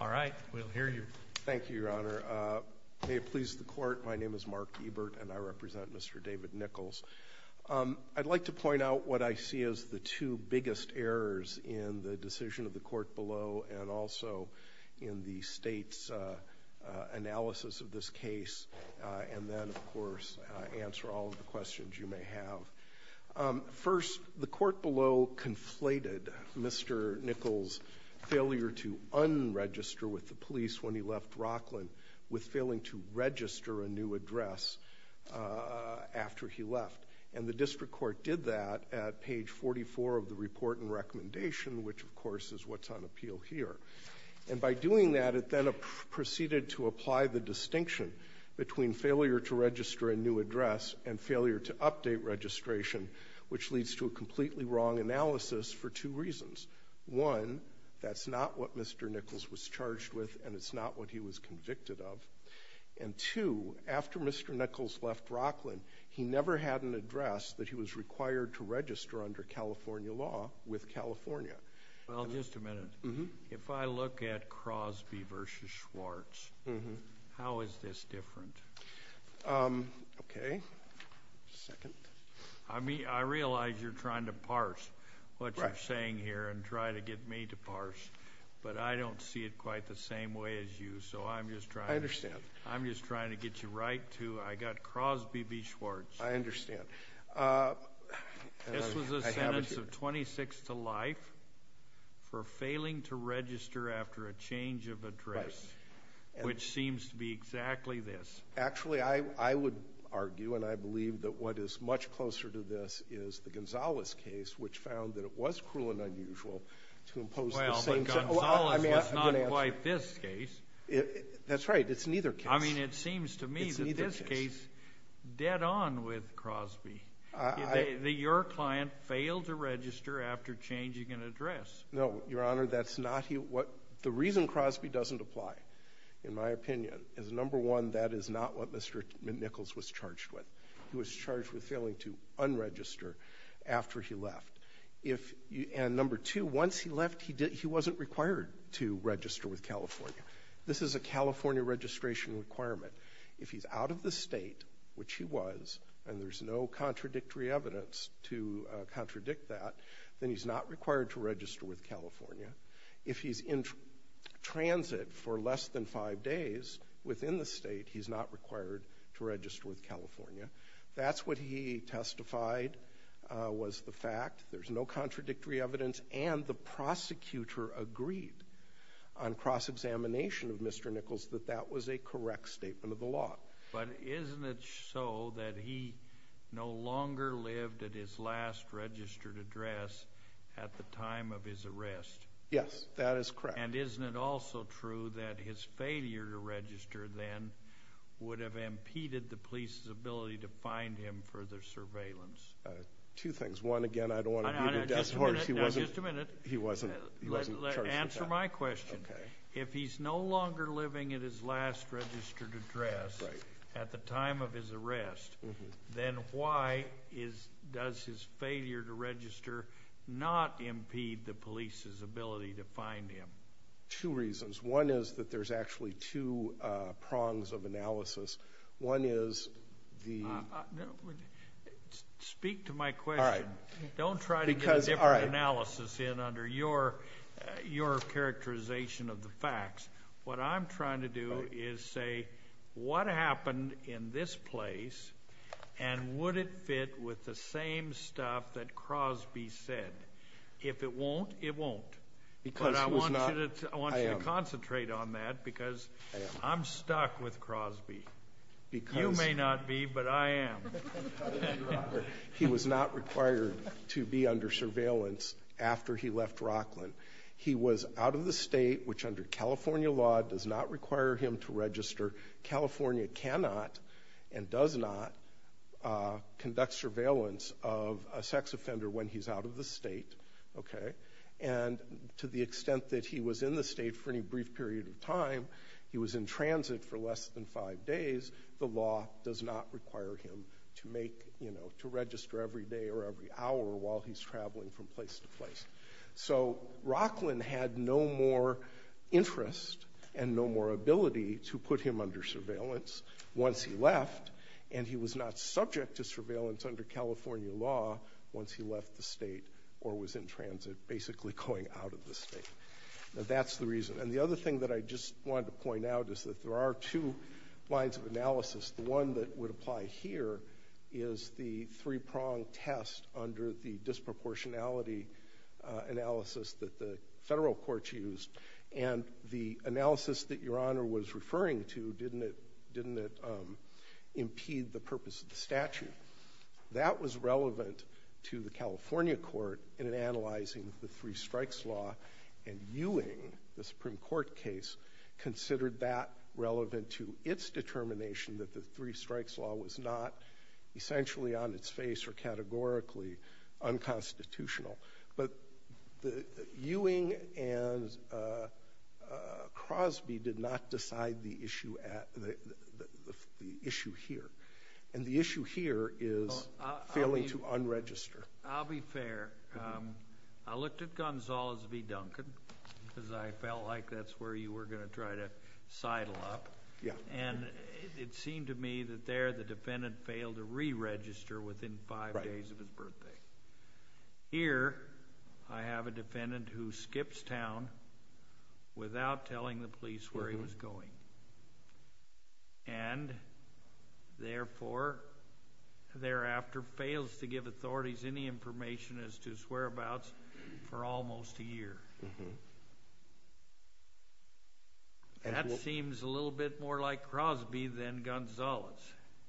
All right, we'll hear you. Thank you, Your Honor. May it please the Court, my name is Mark Ebert and I represent Mr. David Nichols. I'd like to point out what I see as the two biggest errors in the decision of the Court below and also in the State's analysis of this case, and then, of course, answer all of the questions you may have. First, the Court below conflated Mr. Nichols' failure to unregister with the police when he left Rockland with failing to register a new address after he left. And the District Court did that at page 44 of the report and recommendation, which, of course, is what's on appeal here. And by doing that, it then proceeded to apply the distinction between failure to register a new address and failure to update registration, which leads to a completely wrong analysis for two reasons. One, that's not what Mr. Nichols was charged with and it's not what he was convicted of. And two, after Mr. Nichols left Rockland, he never had an address that he was required to register under California law with California. Well, just a minute. If I look at Crosby v. Schwartz, how is this different? Okay. Second. I realize you're trying to parse what you're saying here and try to get me to parse, but I don't see it quite the same way as you, so I'm just trying to get you right to I got Crosby v. Schwartz. I understand. This was a sentence of 26 to life for failing to register after a change of address, which seems to be exactly this. Actually, I would argue, and I believe that what is much closer to this is the Gonzales case, which found that it was cruel and unusual to impose the same... Well, but Gonzales was not quite this case. That's right. It's neither case. I mean, it seems to me that this case, dead on with Crosby, that your client failed to register after changing an address. No, Your Honor. The reason Crosby doesn't apply, in my opinion, is number one, that is not what Mr. Nichols was charged with. He was charged with failing to unregister after he left. And number two, once he left, he wasn't required to register with California. This is a California registration requirement. If he's out of the state, which he was, and there's no contradictory evidence to contradict that, then he's not required to register with California. If he's in transit for less than five days within the state, he's not required to register with California. That's what he testified was the fact. There's no contradictory evidence, and the prosecutor agreed on cross-examination of Mr. Nichols that that was a correct statement of the law. But isn't it so that he no longer lived at his last registered address at the time of his arrest? Yes, that is correct. And isn't it also true that his failure to register then would have impeded the police's ability to find him for their surveillance? Two things. One, again, I don't want to be the death horse. No, just a minute. He wasn't charged with that. Answer my question. If he's no longer living at his last registered address at the time of his arrest, then why does his failure to register not impede the police's ability to find him? Two reasons. One is that there's actually two prongs of analysis. Speak to my question. Don't try to get a different analysis in under your characterization of the facts. What I'm trying to do is say what happened in this place and would it fit with the same stuff that Crosby said. If it won't, it won't. But I want you to concentrate on that because I'm stuck with Crosby. You may not be, but I am. He was not required to be under surveillance after he left Rockland. He was out of the state, which under California law does not require him to register. California cannot and does not conduct surveillance of a sex offender when he's out of the state. And to the extent that he was in the state for any brief period of time, he was in transit for less than five days, the law does not require him to register every day or every hour while he's traveling from place to place. So Rockland had no more interest and no more ability to put him under surveillance once he left and he was not subject to surveillance under California law once he left the state or was in transit, basically going out of the state. That's the reason. And the other thing that I just wanted to point out is that there are two lines of analysis. The one that would apply here is the three-prong test under the disproportionality analysis that the federal courts used. And the analysis that Your Honor was referring to, didn't it impede the purpose of the statute? That was relevant to the California court in analyzing the three strikes law and Ewing, the Supreme Court case, considered that relevant to its determination that the three strikes law was not essentially on its face or categorically unconstitutional. But Ewing and Crosby did not decide the issue here. And the issue here is failing to unregister. I'll be fair. I looked at Gonzales v. Duncan because I felt like that's where you were going to try to sidle up. And it seemed to me that there the defendant failed to re-register within five days of his birthday. Here I have a defendant who skips town without telling the police where he was going. And, therefore, thereafter fails to give authorities any information as to his whereabouts for almost a year. That seems a little bit more like Crosby than Gonzales.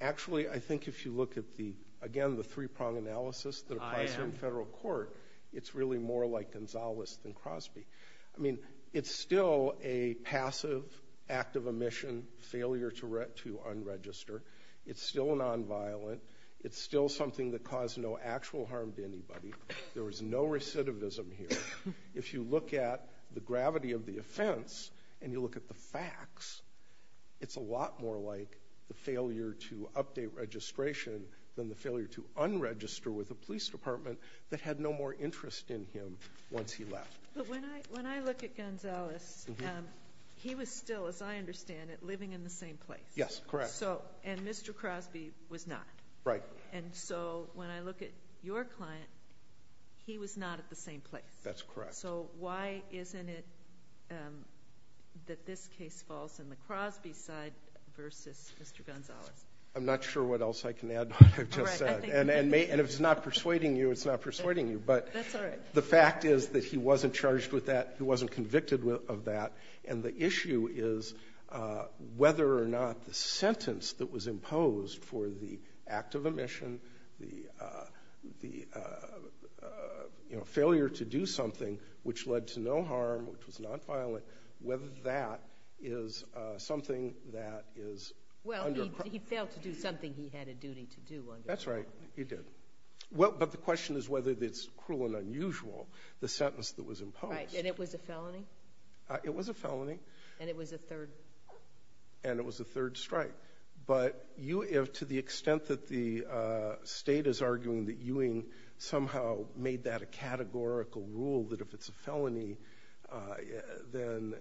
Actually, I think if you look at the, again, the three-prong analysis that applies to the federal court, it's really more like Gonzales than Crosby. I mean, it's still a passive act of omission, failure to unregister. It's still nonviolent. It's still something that caused no actual harm to anybody. There was no recidivism here. If you look at the gravity of the offense and you look at the facts, it's a lot more like the failure to update registration than the failure to unregister with a police department that had no more interest in him once he left. But when I look at Gonzales, he was still, as I understand it, living in the same place. Yes, correct. And Mr. Crosby was not. Right. And so when I look at your client, he was not at the same place. That's correct. So why isn't it that this case falls on the Crosby side versus Mr. Gonzales? I'm not sure what else I can add to what I've just said. And if it's not persuading you, it's not persuading you. That's all right. The fact is that he wasn't charged with that. He wasn't convicted of that. And the issue is whether or not the sentence that was imposed for the act of omission, the failure to do something which led to no harm, which was nonviolent, whether that is something that is under- Well, he failed to do something he had a duty to do. That's right. He did. But the question is whether it's cruel and unusual, the sentence that was imposed. Right. And it was a felony? It was a felony. And it was a third? And it was a third strike. But to the extent that the state is arguing that Ewing somehow made that a categorical rule, that if it's a felony, then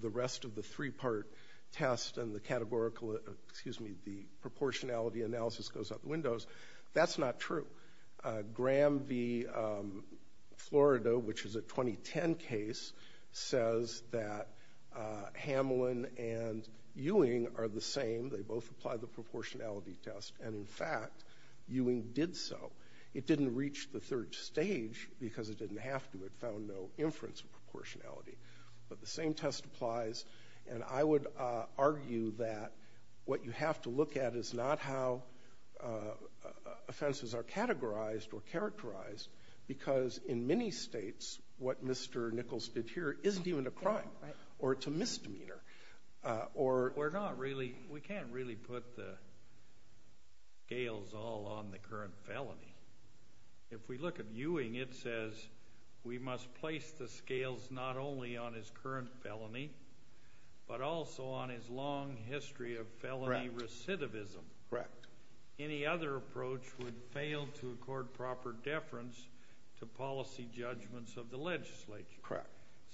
the rest of the three-part test and the proportionality analysis goes out the windows, that's not true. Graham v. Florida, which is a 2010 case, says that Hamlin and Ewing are the same. They both apply the proportionality test. And, in fact, Ewing did so. It didn't reach the third stage because it didn't have to. It found no inference of proportionality. But the same test applies. And I would argue that what you have to look at is not how offenses are categorized or characterized because, in many states, what Mr. Nichols did here isn't even a crime. Right. Or it's a misdemeanor. We can't really put the scales all on the current felony. If we look at Ewing, it says we must place the scales not only on his current felony but also on his long history of felony recidivism. Correct. Any other approach would fail to accord proper deference to policy judgments of the legislature. Correct.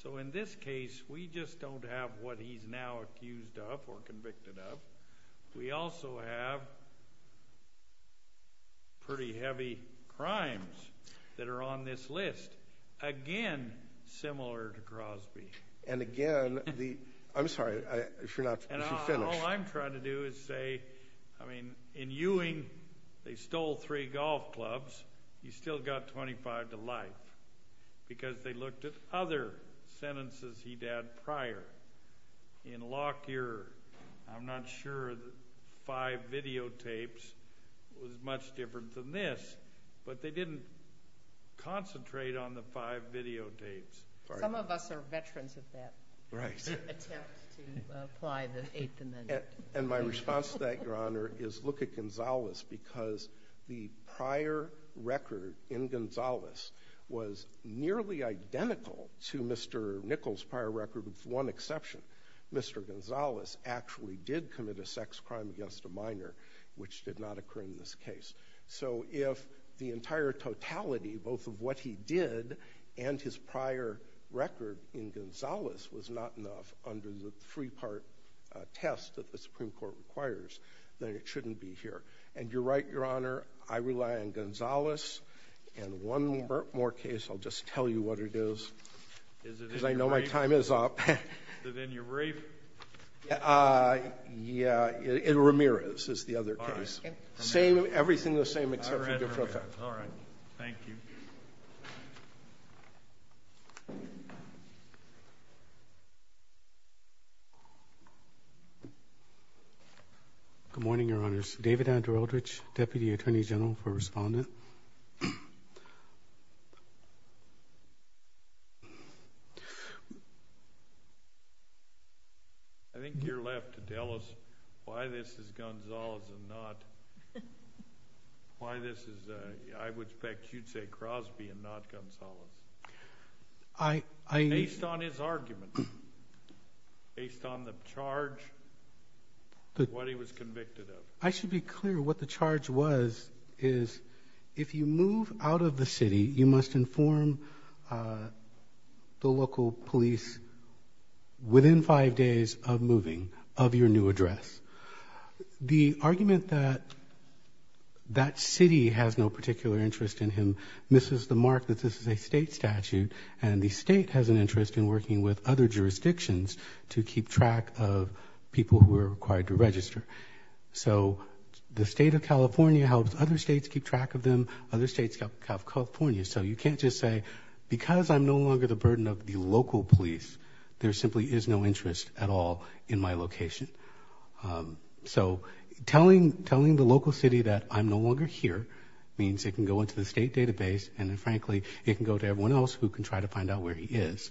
So, in this case, we just don't have what he's now accused of or convicted of. We also have pretty heavy crimes that are on this list, again, similar to Crosby. And, again, the—I'm sorry. If you're not—if you're finished. And all I'm trying to do is say, I mean, in Ewing, they stole three golf clubs. He still got 25 to life because they looked at other sentences he'd had prior. In Lockyer, I'm not sure the five videotapes was much different than this, but they didn't concentrate on the five videotapes. Some of us are veterans of that. Right. Attempt to apply the eighth amendment. And my response to that, Your Honor, is look at Gonzalez because the prior record in Gonzalez was nearly identical to Mr. Nichols' prior record with one exception. Mr. Gonzalez actually did commit a sex crime against a minor, which did not occur in this case. So if the entire totality, both of what he did and his prior record in Gonzalez, was not enough under the three-part test that the Supreme Court requires, then it shouldn't be here. And you're right, Your Honor. I rely on Gonzalez. And one more case, I'll just tell you what it is because I know my time is up. Is it in your brief? Yeah. In Ramirez is the other case. Same, everything the same except for a different effect. All right. Thank you. Good morning, Your Honors. David Andrew Eldridge, Deputy Attorney General for Respondent. I think you're left to tell us why this is Gonzalez and not why this is, I would expect you'd say Crosby and not Gonzalez. Based on his argument, based on the charge, what he was convicted of. I should be clear what the charge was is if you move out of the city, you must inform the local police within five days of moving of your new address. The argument that that city has no particular interest in him misses the mark that this is a state statute, and the state has an interest in working with other jurisdictions to keep track of people who are required to register. So the state of California helps other states keep track of them, other states help California. So you can't just say because I'm no longer the burden of the local police, there simply is no interest at all in my location. So telling the local city that I'm no longer here means it can go into the state database, and then frankly it can go to everyone else who can try to find out where he is.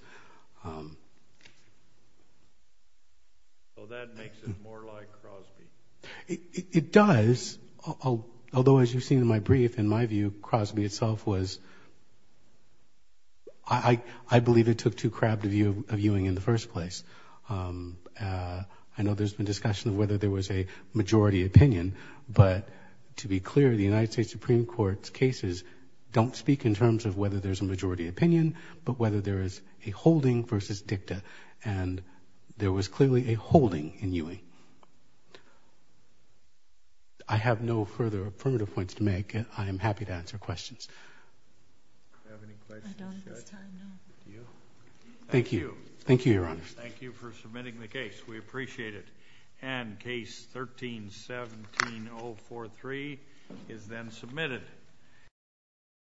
So that makes it more like Crosby. It does, although as you've seen in my brief, in my view, Crosby itself was, I believe it took too crabbed a viewing in the first place. I know there's been discussion of whether there was a majority opinion, but to be clear, the United States Supreme Court's cases don't speak in terms of whether there's a majority opinion, but whether there is a holding versus dicta, and there was clearly a holding in Ewing. I have no further affirmative points to make. I am happy to answer questions. Do you have any questions, Judge? I don't at this time, no. Do you? Thank you. Thank you, Your Honor. Thank you for submitting the case. We appreciate it. And Case 13-17043 is then submitted.